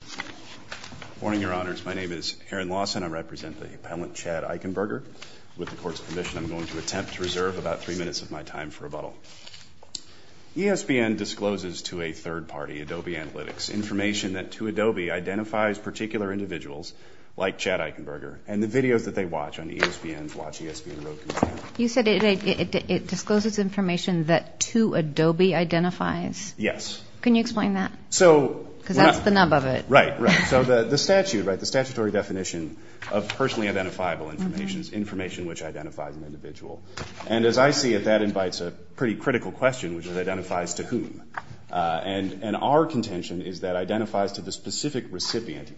Good morning, Your Honors. My name is Aaron Lawson. I represent the appellant, Chad Eichenberger. With the Court's permission, I'm going to attempt to reserve about three minutes of my time for rebuttal. ESPN discloses to a third party, Adobe Analytics, information that to Adobe identifies particular individuals like Chad Eichenberger and the videos that they watch on ESPN's WatchESPNroad.com. You said it discloses information that to Adobe identifies? Yes. Can you explain that? Because that's the nub of it. Right. So the statute, the statutory definition of personally identifiable information is information which identifies an individual. And as I see it, that invites a pretty critical question, which is it identifies to whom? And our contention is that it identifies to the specific recipient.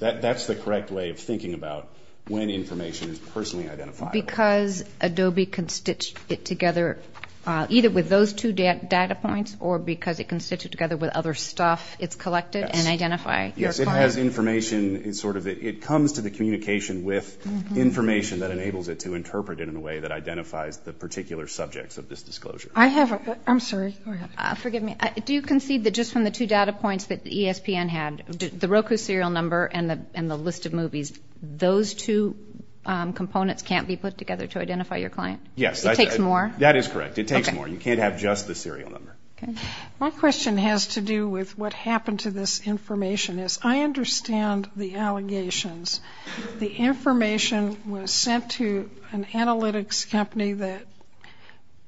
That's the correct way of thinking about when information is personally identifiable. So because Adobe can stitch it together, either with those two data points or because it can stitch it together with other stuff, it's collected and identify your clients? Yes. It has information. It comes to the communication with information that enables it to interpret it in a way that identifies the particular subjects of this disclosure. I'm sorry. Go ahead. Forgive me. Do you concede that just from the two data points that ESPN had, the Roku serial number and the list of movies, those two components can't be put together to identify your client? Yes. It takes more? That is correct. It takes more. You can't have just the serial number. Okay. My question has to do with what happened to this information. As I understand the allegations, the information was sent to an analytics company that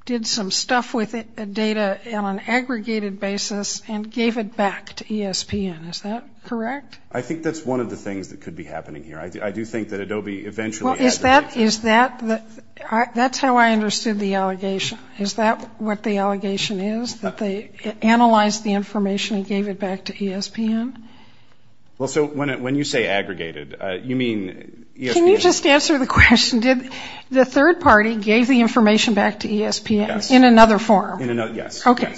did some stuff with data on an aggregated basis and gave it back to ESPN. Is that correct? I think that's one of the things that could be happening here. I do think that Adobe eventually aggregated it. That's how I understood the allegation. Is that what the allegation is, that they analyzed the information and gave it back to ESPN? Well, so when you say aggregated, you mean ESPN? Can you just answer the question? Did the third party gave the information back to ESPN in another form? Yes. Okay.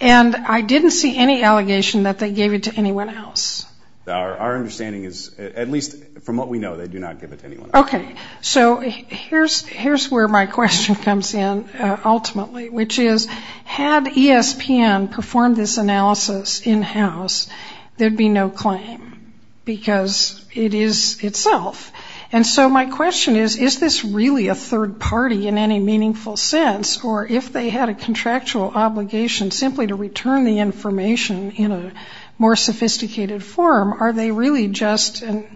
And I didn't see any allegation that they gave it to anyone else. Our understanding is, at least from what we know, they do not give it to anyone else. Okay. So here's where my question comes in ultimately, which is, had ESPN performed this analysis in-house, there'd be no claim because it is itself. And so my question is, is this really a third party in any meaningful sense? Or if they had a contractual obligation simply to return the information in a more sophisticated form, are they really just an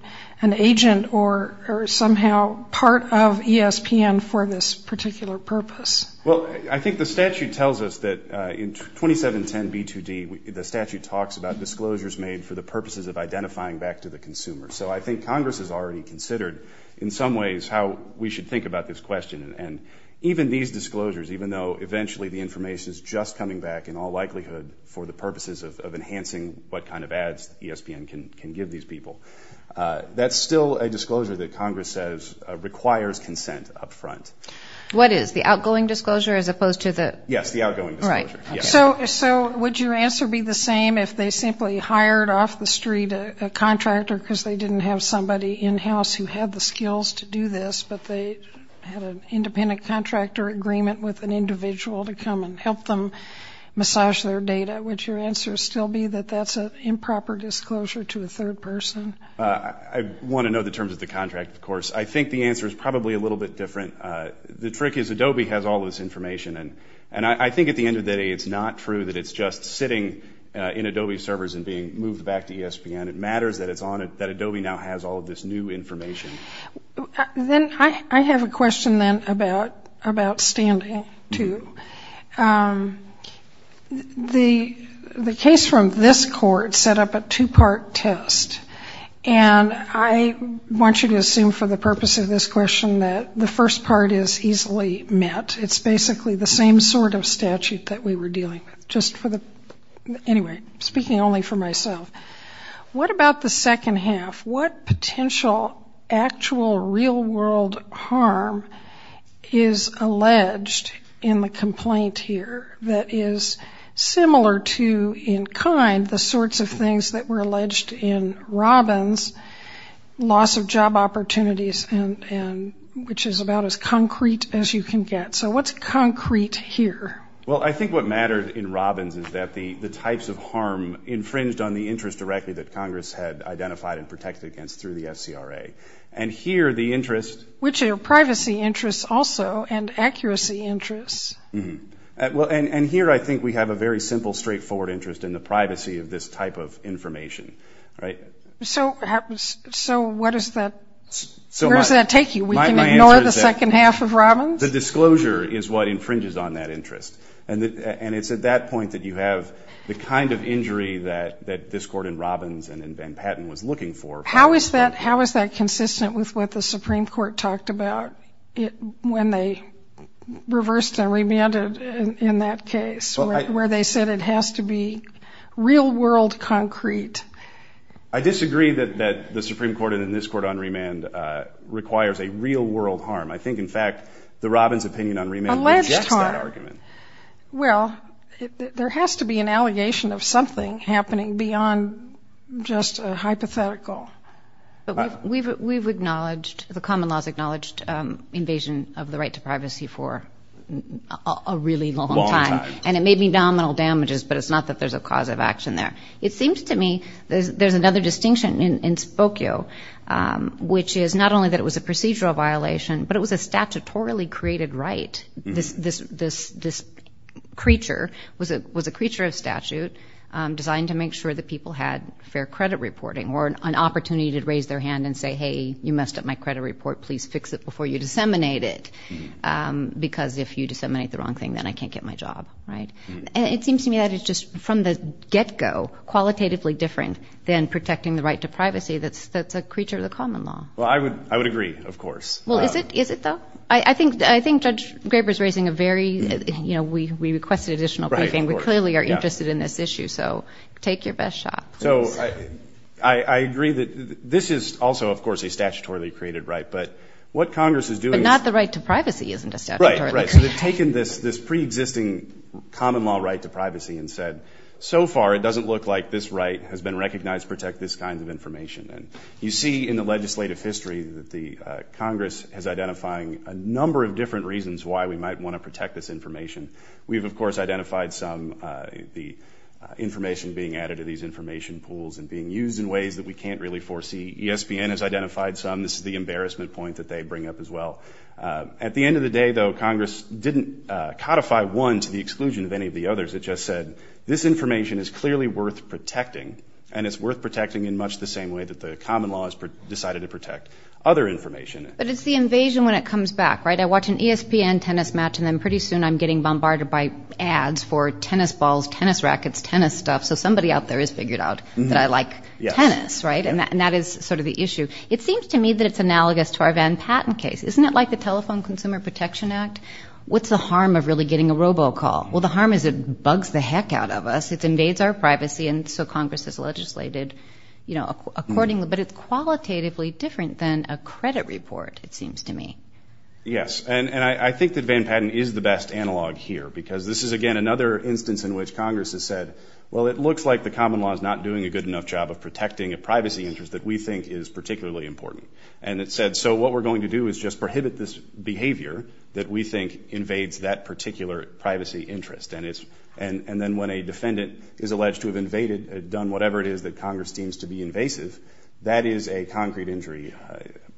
agent or somehow part of ESPN for this particular purpose? Well, I think the statute tells us that in 2710b2d, the statute talks about disclosures made for the purposes of identifying back to the consumer. So I think Congress has already considered in some ways how we should think about this question. And even these disclosures, even though eventually the information is just coming back in all likelihood for the purposes of enhancing what kind of ads ESPN can give these people, that's still a disclosure that Congress says requires consent up front. What is? The outgoing disclosure as opposed to the- Yes, the outgoing disclosure. Right. So would your answer be the same if they simply hired off the street a contractor because they didn't have somebody in-house who had the skills to do this, but they had an independent contractor agreement with an individual to come and help them massage their data? Would your answer still be that that's an improper disclosure to a third person? I want to know the terms of the contract, of course. I think the answer is probably a little bit different. The trick is Adobe has all this information. And I think at the end of the day, it's not true that it's just sitting in Adobe servers and being moved back to ESPN. It matters that Adobe now has all of this new information. Then I have a question then about standing, too. The case from this court set up a two-part test. And I want you to assume for the purpose of this question that the first part is easily met. It's basically the same sort of statute that we were dealing with. Anyway, speaking only for myself, what about the second half? What potential actual real-world harm is alleged in the complaint here that is similar to, in kind, the sorts of things that were alleged in Robbins' loss of job opportunities, which is about as concrete as you can get? So what's concrete here? Well, I think what mattered in Robbins' is that the types of harm infringed on the interest directly that Congress had identified and protected against through the SCRA. And here the interest... Which are privacy interests also and accuracy interests. And here I think we have a very simple, straightforward interest in the privacy of this type of information. So where does that take you? We can ignore the second half of Robbins? The disclosure is what infringes on that interest. And it's at that point that you have the kind of injury that this court in Robbins and in Van Patten was looking for. How is that consistent with what the Supreme Court talked about when they reversed and remanded in that case, where they said it has to be real-world concrete? I disagree that the Supreme Court and in this court on remand requires a real-world harm. I think, in fact, that Robbins' opinion on remand rejects that argument. Well, there has to be an allegation of something happening beyond just a hypothetical. We've acknowledged, the common laws acknowledged, invasion of the right to privacy for a really long time. And it may be nominal damages, but it's not that there's a cause of action there. It seems to me there's another distinction in Spokio, which is not only that it was a procedural violation, but it was a statutorily created right. This creature was a creature of statute designed to make sure that people had fair credit reporting or an opportunity to raise their hand and say, hey, you messed up my credit report. Please fix it before you disseminate it, because if you disseminate the wrong thing, then I can't get my job, right? And it seems to me that it's just from the get-go qualitatively different than protecting the right to privacy. That's a creature of the common law. Well, I would agree, of course. Well, is it, though? I think Judge Graber is raising a very, you know, we requested additional briefing. We clearly are interested in this issue, so take your best shot. So I agree that this is also, of course, a statutorily created right. But what Congress is doing is ‑‑ But not the right to privacy isn't a statutorily created right. Right, right. So they've taken this preexisting common law right to privacy and said, so far it doesn't look like this right has been recognized to protect this kind of information. And you see in the legislative history that Congress is identifying a number of different reasons why we might want to protect this information. We've, of course, identified some, the information being added to these information pools and being used in ways that we can't really foresee. ESPN has identified some. This is the embarrassment point that they bring up as well. At the end of the day, though, Congress didn't codify one to the exclusion of any of the others. It just said, this information is clearly worth protecting, and it's worth protecting in much the same way that the common law has decided to protect other information. But it's the invasion when it comes back, right? I watch an ESPN tennis match and then pretty soon I'm getting bombarded by ads for tennis balls, tennis rackets, tennis stuff. So somebody out there has figured out that I like tennis, right? And that is sort of the issue. It seems to me that it's analogous to our Van Patten case. Isn't it like the Telephone Consumer Protection Act? What's the harm of really getting a robocall? Well, the harm is it bugs the heck out of us. It invades our privacy, and so Congress has legislated accordingly. But it's qualitatively different than a credit report, it seems to me. Yes, and I think that Van Patten is the best analog here, because this is, again, another instance in which Congress has said, well, it looks like the common law is not doing a good enough job of protecting a privacy interest that we think is particularly important. And it said, so what we're going to do is just prohibit this behavior that we think invades that particular privacy interest. And then when a defendant is alleged to have invaded, done whatever it is that Congress deems to be invasive, that is a concrete injury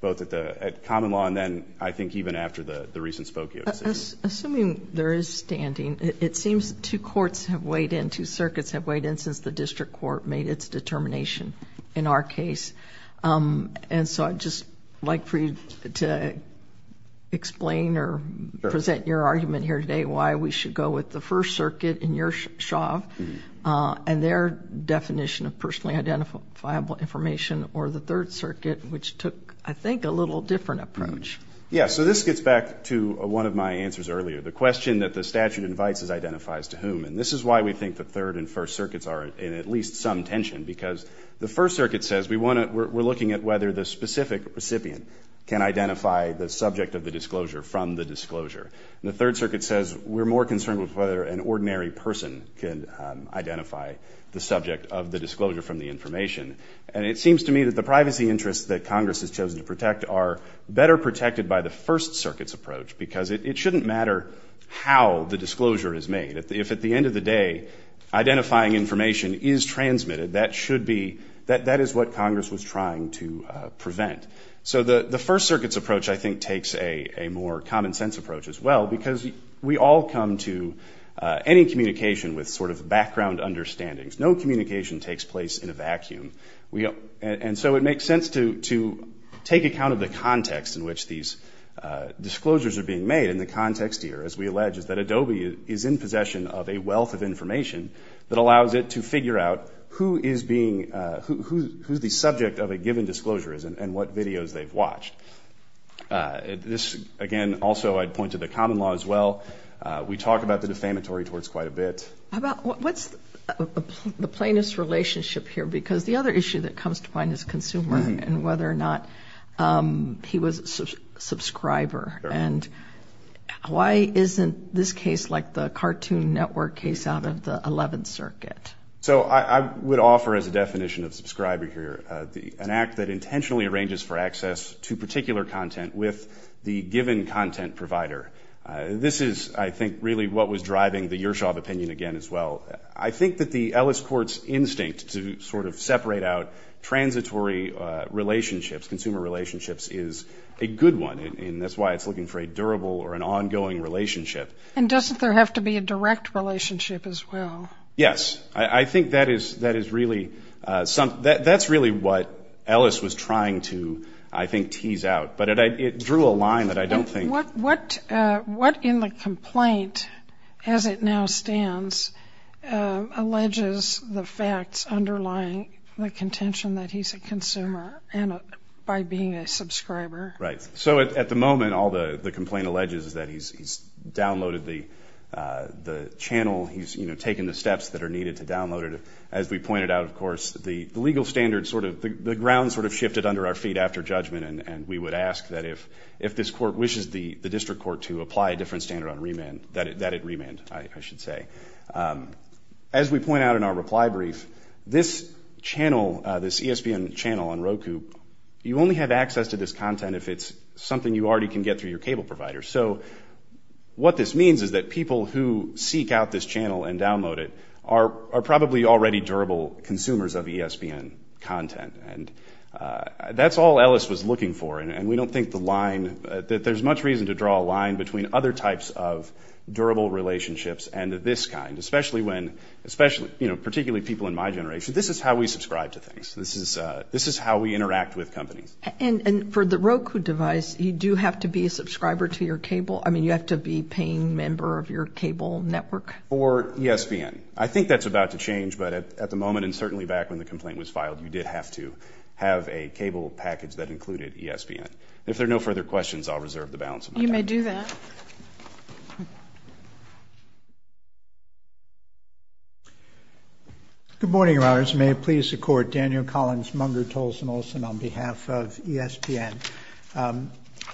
both at common law and then I think even after the recent Spokio decision. Assuming there is standing, it seems two courts have weighed in, two circuits have weighed in since the district court made its determination in our case. And so I'd just like for you to explain or present your argument here today as to why we should go with the First Circuit in your shaft and their definition of personally identifiable information or the Third Circuit, which took, I think, a little different approach. Yes, so this gets back to one of my answers earlier, the question that the statute invites is identifies to whom. And this is why we think the Third and First Circuits are in at least some tension, because the First Circuit says we want to, we're looking at whether the specific recipient can identify the subject of the disclosure from the disclosure. And the Third Circuit says we're more concerned with whether an ordinary person can identify the subject of the disclosure from the information. And it seems to me that the privacy interests that Congress has chosen to protect are better protected by the First Circuit's approach, because it shouldn't matter how the disclosure is made. If at the end of the day identifying information is transmitted, that should be, that is what Congress was trying to prevent. So the First Circuit's approach, I think, takes a more common sense approach as well, because we all come to any communication with sort of background understandings. No communication takes place in a vacuum. And so it makes sense to take account of the context in which these disclosures are being made. And the context here, as we allege, is that Adobe is in possession of a wealth of information that allows it to figure out who is being, who the subject of a given disclosure is and what videos they've watched. This, again, also I'd point to the common law as well. We talk about the defamatory towards quite a bit. What's the plaintiff's relationship here? Because the other issue that comes to mind is consumer and whether or not he was a subscriber. And why isn't this case like the Cartoon Network case out of the Eleventh Circuit? So I would offer as a definition of subscriber here an act that intentionally arranges for access to particular content with the given content provider. This is, I think, really what was driving the Yershov opinion again as well. I think that the Ellis Court's instinct to sort of separate out transitory relationships, consumer relationships, is a good one, and that's why it's looking for a durable or an ongoing relationship. And doesn't there have to be a direct relationship as well? Yes. I think that is really what Ellis was trying to, I think, tease out. But it drew a line that I don't think. What in the complaint, as it now stands, alleges the facts underlying the contention that he's a consumer by being a subscriber? Right. So at the moment, all the complaint alleges is that he's downloaded the channel, he's taken the steps that are needed to download it. As we pointed out, of course, the legal standard sort of, the ground sort of shifted under our feet after judgment, and we would ask that if this court wishes the district court to apply a different standard on remand, that it remand, I should say. As we point out in our reply brief, this channel, this ESPN channel on Roku, you only have access to this content if it's something you already can get through your cable provider. So what this means is that people who seek out this channel and download it are probably already durable consumers of ESPN content. And that's all Ellis was looking for, and we don't think the line that there's much reason to draw a line between other types of durable relationships and this kind, especially when, you know, particularly people in my generation, this is how we subscribe to things. This is how we interact with companies. And for the Roku device, you do have to be a subscriber to your cable? I mean, you have to be a paying member of your cable network? Or ESPN. I think that's about to change, but at the moment, and certainly back when the complaint was filed, you did have to have a cable package that included ESPN. If there are no further questions, I'll reserve the balance of my time. You may do that. Good morning, Your Honors. May it please the Court. Daniel Collins, Munger, Tolson, Olson on behalf of ESPN.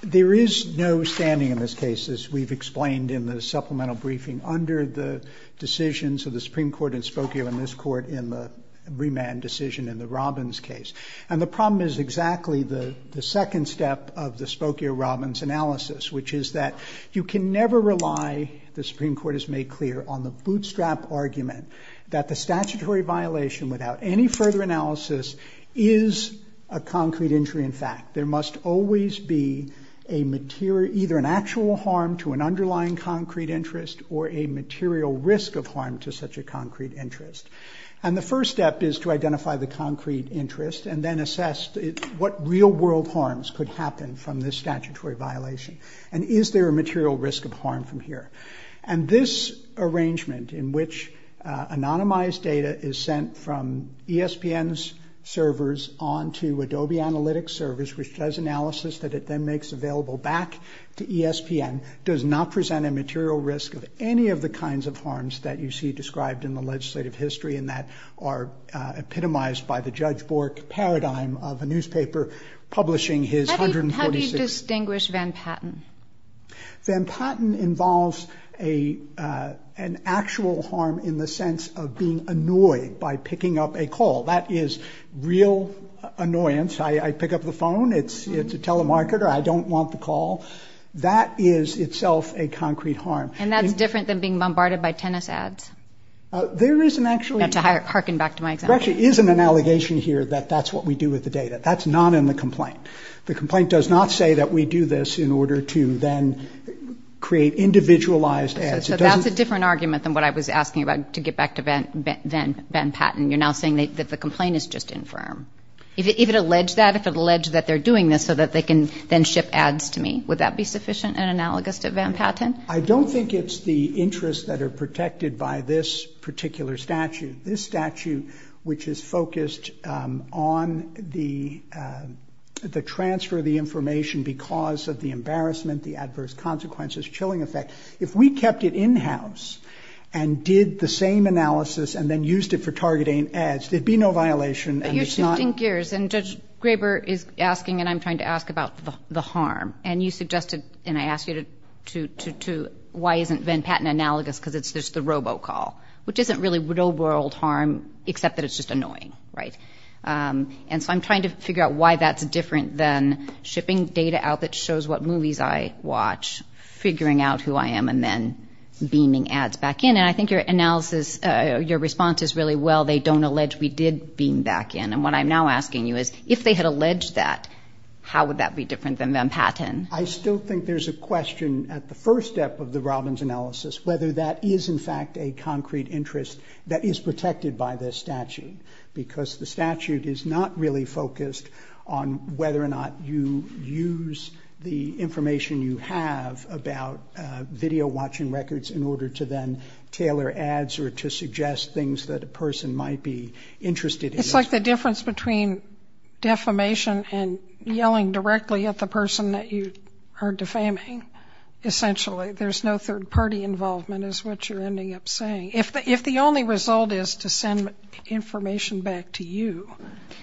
There is no standing in this case, as we've explained in the supplemental briefing, under the decisions of the Supreme Court in Spokio and this Court in the remand decision in the Robbins case. And the problem is exactly the second step of the Spokio-Robbins analysis, which is that you can never rely, the Supreme Court has made clear, on the bootstrap argument that the statutory violation, without any further analysis, is a concrete injury in fact. There must always be either an actual harm to an underlying concrete interest or a material risk of harm to such a concrete interest. And the first step is to identify the concrete interest and then assess what real-world harms could happen from this statutory violation. And is there a material risk of harm from here? And this arrangement, in which anonymized data is sent from ESPN's servers onto Adobe Analytics servers, which does analysis that it then makes available back to ESPN, does not present a material risk of any of the kinds of harms that you see described in the legislative history and that are epitomized by the Judge Bork paradigm of a newspaper publishing his 146... How do you distinguish Van Patten? Van Patten involves an actual harm in the sense of being annoyed by picking up a call. That is real annoyance. I pick up the phone, it's a telemarketer, I don't want the call. That is itself a concrete harm. And that's different than being bombarded by tennis ads? There isn't actually... I have to harken back to my example. There actually isn't an allegation here that that's what we do with the data. That's not in the complaint. The complaint does not say that we do this in order to then create individualized ads. So that's a different argument than what I was asking about to get back to Van Patten. You're now saying that the complaint is just infirm. If it alleged that, if it alleged that they're doing this so that they can then ship ads to me, would that be sufficient and analogous to Van Patten? I don't think it's the interests that are protected by this particular statute. This statute, which is focused on the transfer of the information because of the embarrassment, the adverse consequences, chilling effect. If we kept it in-house and did the same analysis and then used it for targeting ads, there'd be no violation and it's not... But you're 15 years, and Judge Graber is asking, and I'm trying to ask about the harm. And you suggested, and I asked you to, why isn't Van Patten analogous because it's just the robocall, which isn't really no world harm except that it's just annoying, right? And so I'm trying to figure out why that's different than shipping data out that shows what movies I watch, figuring out who I am, and then beaming ads back in. And I think your analysis, your response is really, well, they don't allege we did beam back in. And what I'm now asking you is, if they had alleged that, how would that be different than Van Patten? I still think there's a question at the first step of the Robbins analysis, whether that is, in fact, a concrete interest that is protected by this statute, because the statute is not really focused on whether or not you use the information you have about video-watching records in order to then tailor ads or to suggest things that a person might be interested in. It's like the difference between defamation and yelling directly at the person that you are defaming, essentially. There's no third-party involvement is what you're ending up saying. If the only result is to send information back to you.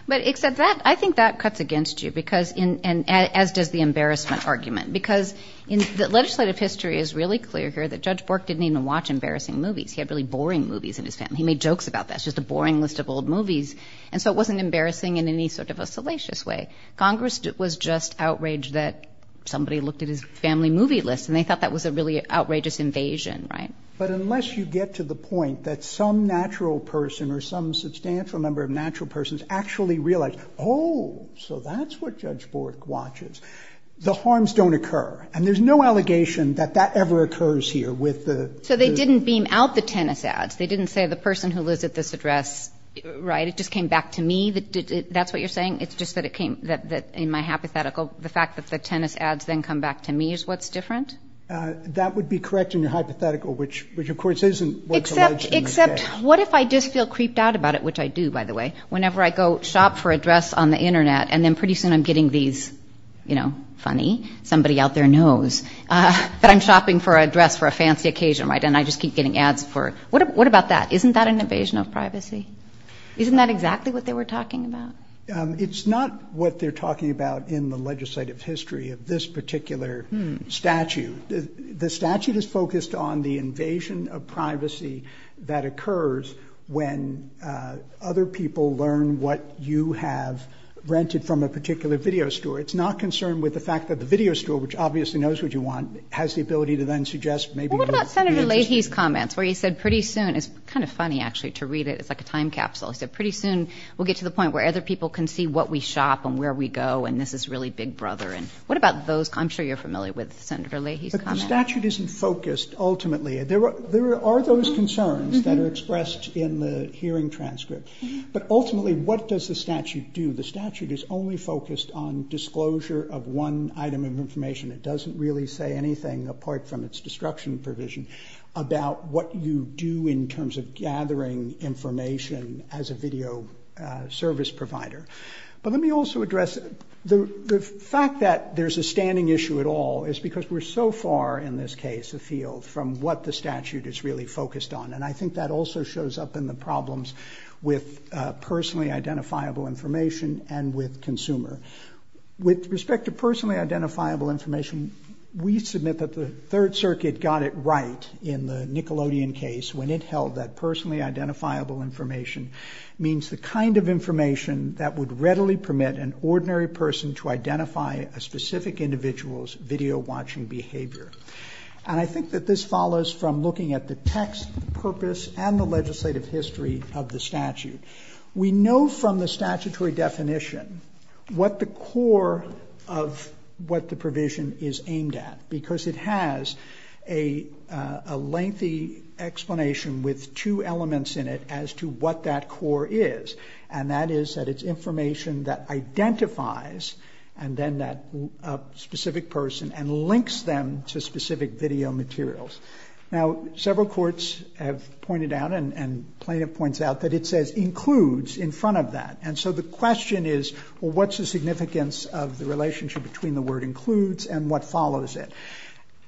But except that, I think that cuts against you, as does the embarrassment argument. Because legislative history is really clear here that Judge Bork didn't even watch embarrassing movies. He had really boring movies in his family. He made jokes about that. It's just a boring list of old movies. And so it wasn't embarrassing in any sort of a salacious way. Congress was just outraged that somebody looked at his family movie list and they thought that was a really outrageous invasion, right? But unless you get to the point that some natural person or some substantial number of natural persons actually realize, oh, so that's what Judge Bork watches, the harms don't occur. And there's no allegation that that ever occurs here with the. So they didn't beam out the tennis ads. They didn't say the person who lives at this address. Right. It just came back to me. That's what you're saying. It's just that it came in my hypothetical. The fact that the tennis ads then come back to me is what's different. That would be correct in your hypothetical, which, of course, isn't what's alleged in the case. Except what if I just feel creeped out about it, which I do, by the way, whenever I go shop for a dress on the Internet and then pretty soon I'm getting these, you know, funny, somebody out there knows that I'm shopping for a dress for a fancy occasion, right, and I just keep getting ads for it. What about that? Isn't that an invasion of privacy? Isn't that exactly what they were talking about? It's not what they're talking about in the legislative history of this particular statute. The statute is focused on the invasion of privacy that occurs when other people learn what you have rented from a particular video store. It's not concerned with the fact that the video store, which obviously knows what you want, has the ability to then suggest maybe what you're interested in. What about Senator Leahy's comments where he said pretty soon? It's kind of funny, actually, to read it. It's like a time capsule. He said pretty soon we'll get to the point where other people can see what we shop and where we go and this is really big brother. And what about those? I'm sure you're familiar with Senator Leahy's comments. But the statute isn't focused ultimately. There are those concerns that are expressed in the hearing transcript, but ultimately what does the statute do? The statute is only focused on disclosure of one item of information. It doesn't really say anything, apart from its destruction provision, about what you do in terms of gathering information as a video service provider. But let me also address the fact that there's a standing issue at all is because we're so far, in this case, afield from what the statute is really focused on. And I think that also shows up in the problems with personally identifiable information and with consumer. With respect to personally identifiable information, we submit that the Third Circuit got it right in the Nickelodeon case when it held that personally identifiable information means the kind of information that would readily permit an ordinary person to identify a specific individual's video watching behavior. And I think that this follows from looking at the text, the purpose, and the legislative history of the statute. We know from the statutory definition what the core of what the provision is aimed at, because it has a lengthy explanation with two elements in it as to what that core is. And that is that it's information that identifies a specific person and links them to specific video materials. Now, several courts have pointed out and plaintiff points out that it says includes in front of that. And so the question is, well, what's the significance of the relationship between the word includes and what follows it?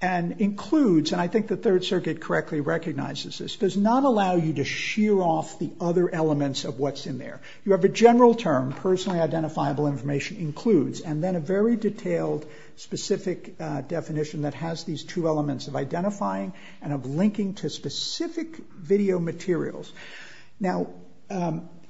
And includes, and I think the Third Circuit correctly recognizes this, does not allow you to shear off the other elements of what's in there. You have a general term, personally identifiable information includes, and then a very detailed specific definition that has these two elements of identifying and of linking to specific video materials. Now,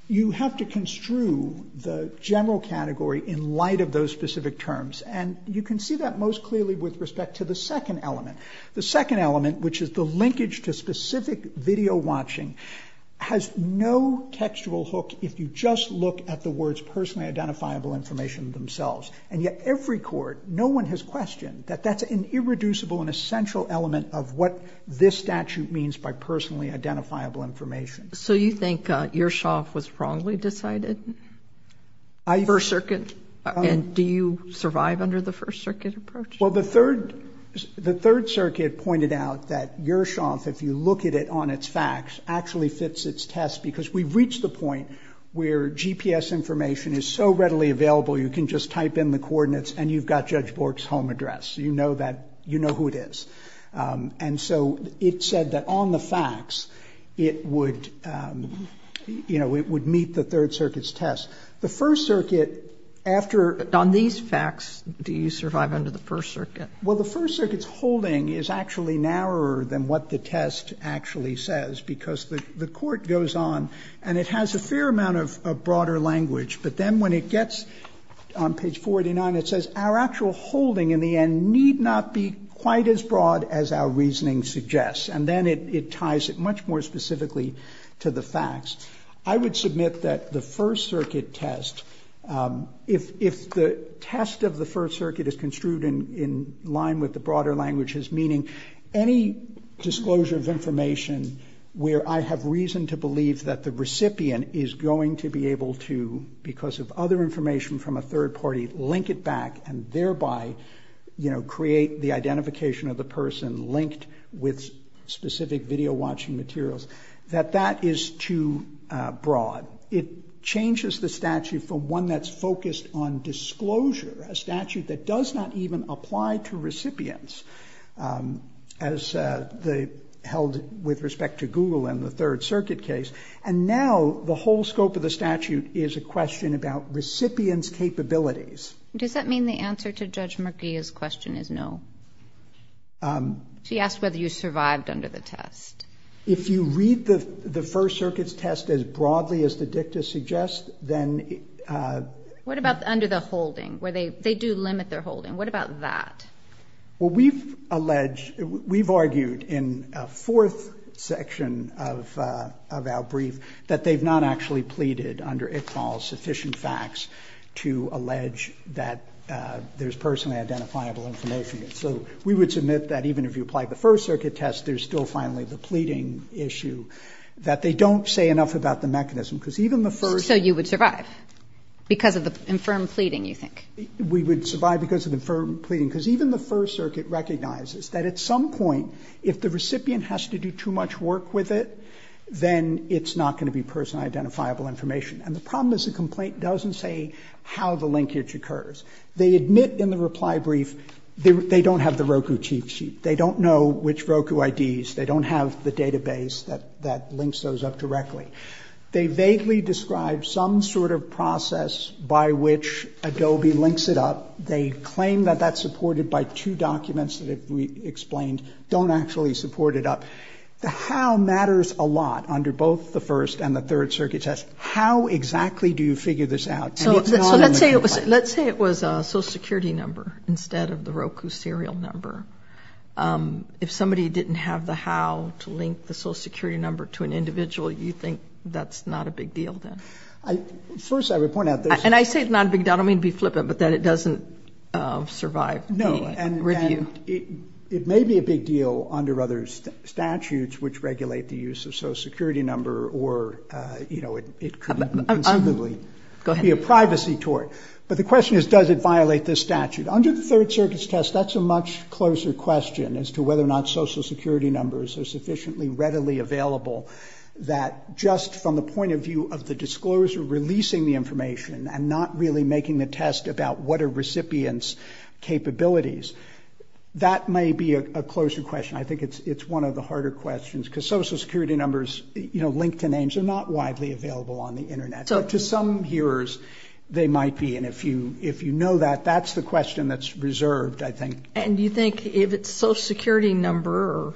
you have to construe the general category in light of those specific terms. And you can see that most clearly with respect to the second element. The second element, which is the linkage to specific video watching, has no textual hook if you just look at the words personally identifiable information themselves. And yet every court, no one has questioned that that's an irreducible and essential element of what this statute means by personally identifiable information. So you think Yershov was wrongly decided? First Circuit? And do you survive under the First Circuit approach? Well, the Third Circuit pointed out that Yershov, if you look at it on its facts, actually fits its test because we've reached the point where GPS information is so readily available, you can just type in the coordinates and you've got Judge Bork's home address. You know who it is. And so it said that on the facts, it would meet the Third Circuit's test. The First Circuit, after ---- On these facts, do you survive under the First Circuit? Well, the First Circuit's holding is actually narrower than what the test actually says because the court goes on and it has a fair amount of broader language. But then when it gets on page 489, it says our actual holding in the end need not be quite as broad as our reasoning suggests. And then it ties it much more specifically to the facts. I would submit that the First Circuit test, if the test of the First Circuit is construed in line with the broader languages, meaning any disclosure of information where I have reason to believe that the recipient is going to be able to, because of other information from a third party, link it back and thereby create the identification of the person linked with specific video-watching materials, that that is too broad. It changes the statute from one that's focused on disclosure, a statute that does not even apply to recipients, as held with respect to Google and the Third Circuit case. And now the whole scope of the statute is a question about recipient's capabilities. Does that mean the answer to Judge Murguia's question is no? She asked whether you survived under the test. If you read the First Circuit's test as broadly as the dicta suggests, then... What about under the holding, where they do limit their holding? What about that? Well, we've alleged, we've argued in a fourth section of our brief that they've not actually pleaded under Iqbal's sufficient facts to allege that there's personally identifiable information. So we would submit that even if you applied the First Circuit test, there's still finally the pleading issue, that they don't say enough about the mechanism, because even the First... So you would survive because of the infirm pleading, you think? We would survive because of the infirm pleading, because even the First Circuit recognizes that at some point, if the recipient has to do too much work with it, then it's not going to be personally identifiable information. And the problem is the complaint doesn't say how the linkage occurs. They admit in the reply brief they don't have the Roku cheat sheet. They don't know which Roku IDs. They don't have the database that links those up directly. They vaguely describe some sort of process by which Adobe links it up. They claim that that's supported by two documents that we explained don't actually support it up. The how matters a lot under both the First and the Third Circuit test. How exactly do you figure this out? So let's say it was a Social Security number instead of the Roku serial number. If somebody didn't have the how to link the Social Security number to an individual, you think that's not a big deal then? First, I would point out... And I say not a big deal. I don't mean to be flippant, but that it doesn't survive the review. No, and it may be a big deal under other statutes which regulate the use of Social Security number or it could be a privacy tort. But the question is, does it violate this statute? Under the Third Circuit's test, that's a much closer question as to whether or not Social Security numbers are sufficiently readily available that just from the point of view of the discloser releasing the information and not really making the test about what are recipients' capabilities. That may be a closer question. I think it's one of the harder questions because Social Security numbers, LinkedIn names, are not widely available on the Internet. To some hearers, they might be, and if you know that, that's the question that's reserved, I think. And do you think if it's a Social Security number or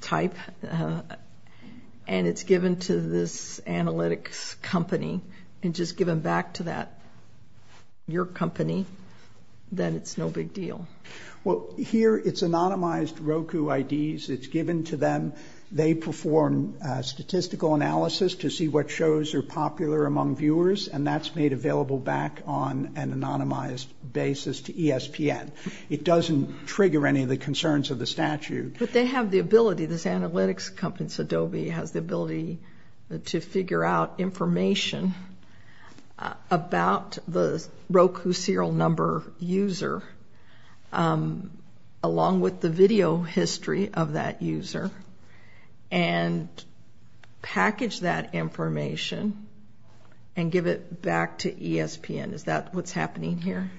type and it's given to this analytics company and just given back to that, your company, then it's no big deal? Well, here it's anonymized Roku IDs. It's given to them. They perform statistical analysis to see what shows are popular among viewers, and that's made available back on an anonymized basis to ESPN. It doesn't trigger any of the concerns of the statute. But they have the ability, this analytics company, Adobe, has the ability to figure out information about the Roku serial number user along with the video history of that user and package that information and give it back to ESPN. Is that what's happening here?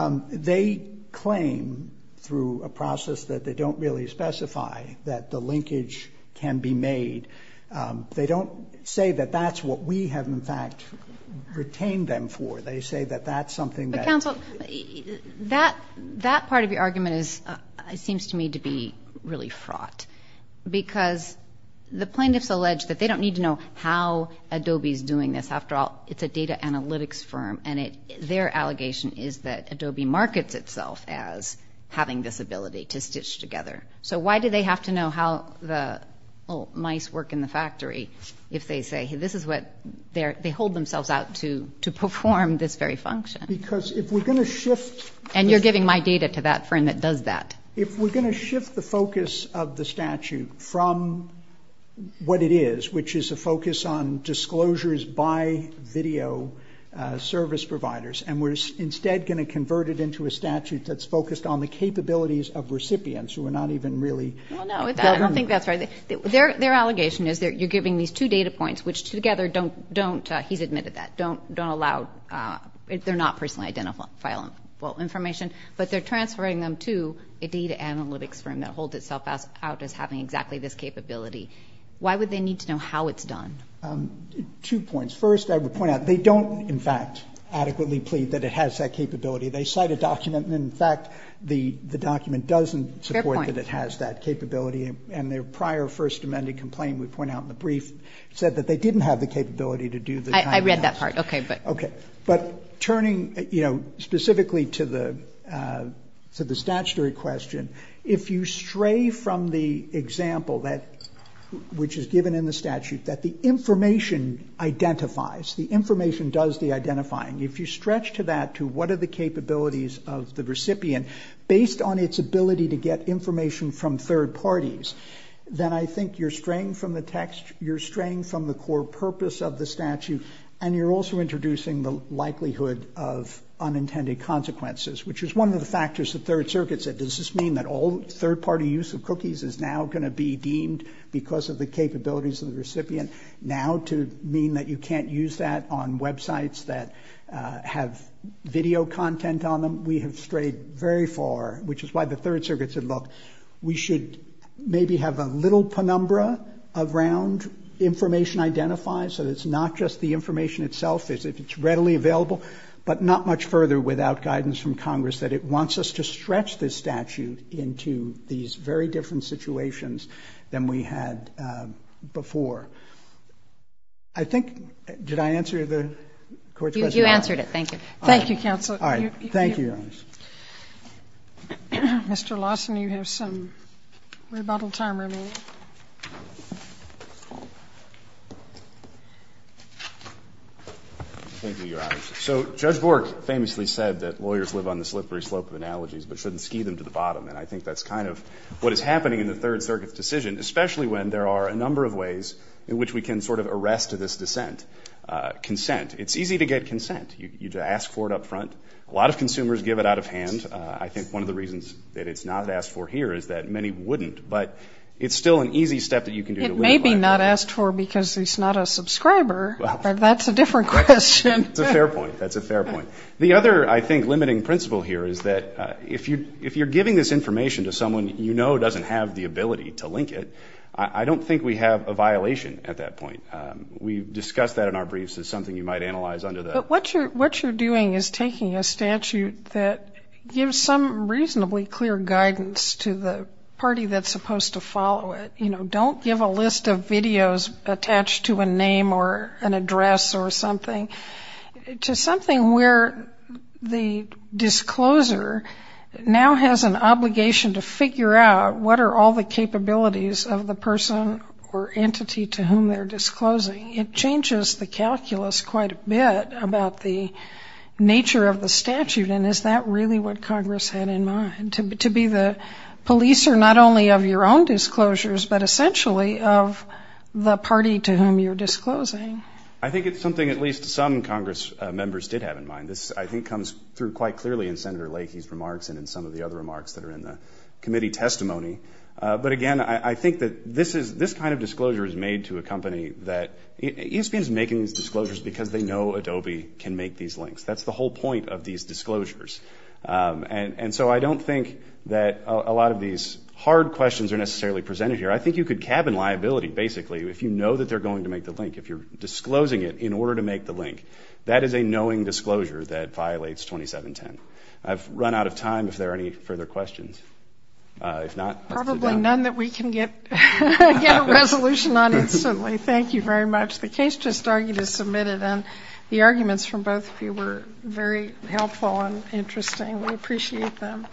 They claim through a process that they don't really specify that the linkage can be made. They don't say that that's what we have, in fact, retained them for. They say that that's something that— But, counsel, that part of your argument seems to me to be really fraught because the plaintiffs allege that they don't need to know how Adobe is doing this. After all, it's a data analytics firm, and their allegation is that Adobe markets itself as having this ability to stitch together. So why do they have to know how the mice work in the factory if they say this is what— They hold themselves out to perform this very function. Because if we're going to shift— And you're giving my data to that firm that does that. If we're going to shift the focus of the statute from what it is, which is a focus on disclosures by video service providers, and we're instead going to convert it into a statute that's focused on the capabilities of recipients who are not even really government. I don't think that's right. Their allegation is that you're giving these two data points, which together don't— He's admitted that. They're not personally identifiable information, but they're transferring them to a data analytics firm that holds itself out as having exactly this capability. Why would they need to know how it's done? Two points. First, I would point out they don't, in fact, adequately plead that it has that capability. They cite a document, and, in fact, the document doesn't support that it has that capability. And their prior First Amendment complaint we point out in the brief said that they didn't have the capability to do that. I read that part. Okay. But turning specifically to the statutory question, if you stray from the example which is given in the statute that the information identifies, the information does the identifying, if you stretch to that to what are the capabilities of the recipient, based on its ability to get information from third parties, then I think you're straying from the text, you're straying from the core purpose of the statute, and you're also introducing the likelihood of unintended consequences, which is one of the factors the Third Circuit said. Does this mean that all third-party use of cookies is now going to be deemed because of the capabilities of the recipient? Now to mean that you can't use that on websites that have video content on them? We have strayed very far, which is why the Third Circuit said, look, we should maybe have a little penumbra around information identified so that it's not just the information itself. If it's readily available, but not much further without guidance from Congress that it wants us to stretch this statute into these very different situations than we had before. I think, did I answer the Court's question? You answered it. Thank you. Thank you, counsel. All right. Thank you, Your Honor. Mr. Lawson, you have some rebuttal time remaining. Thank you, Your Honor. So Judge Bork famously said that lawyers live on the slippery slope of analogies, but shouldn't ski them to the bottom, and I think that's kind of what is happening in the Third Circuit's decision, especially when there are a number of ways in which we can sort of arrest this dissent. Consent. It's easy to get consent. You ask for it up front. A lot of consumers give it out of hand. I think one of the reasons that it's not asked for here is that many wouldn't, but it's still an easy step that you can do to link it. It may be not asked for because it's not a subscriber, but that's a different question. That's a fair point. That's a fair point. The other, I think, limiting principle here is that if you're giving this information to someone you know doesn't have the ability to link it, I don't think we have a violation at that point. We've discussed that in our briefs as something you might analyze under the. But what you're doing is taking a statute that gives some reasonably clear guidance to the party that's supposed to follow it. Don't give a list of videos attached to a name or an address or something. To something where the discloser now has an obligation to figure out what are all the capabilities of the person or entity to whom they're disclosing. It changes the calculus quite a bit about the nature of the statute, and is that really what Congress had in mind, to be the policer not only of your own disclosures, but essentially of the party to whom you're disclosing? I think it's something at least some Congress members did have in mind. This, I think, comes through quite clearly in Senator Leahy's remarks and in some of the other remarks that are in the committee testimony. But, again, I think that this kind of disclosure is made to a company that, ESPN is making these disclosures because they know Adobe can make these links. That's the whole point of these disclosures. And so I don't think that a lot of these hard questions are necessarily presented here. I think you could cabin liability, basically, if you know that they're going to make the link. If you're disclosing it in order to make the link, that is a knowing disclosure that violates 2710. I've run out of time if there are any further questions. If not, let's sit down. Probably none that we can get a resolution on instantly. Thank you very much. The case just argued is submitted, and the arguments from both of you were very helpful and interesting. We appreciate them.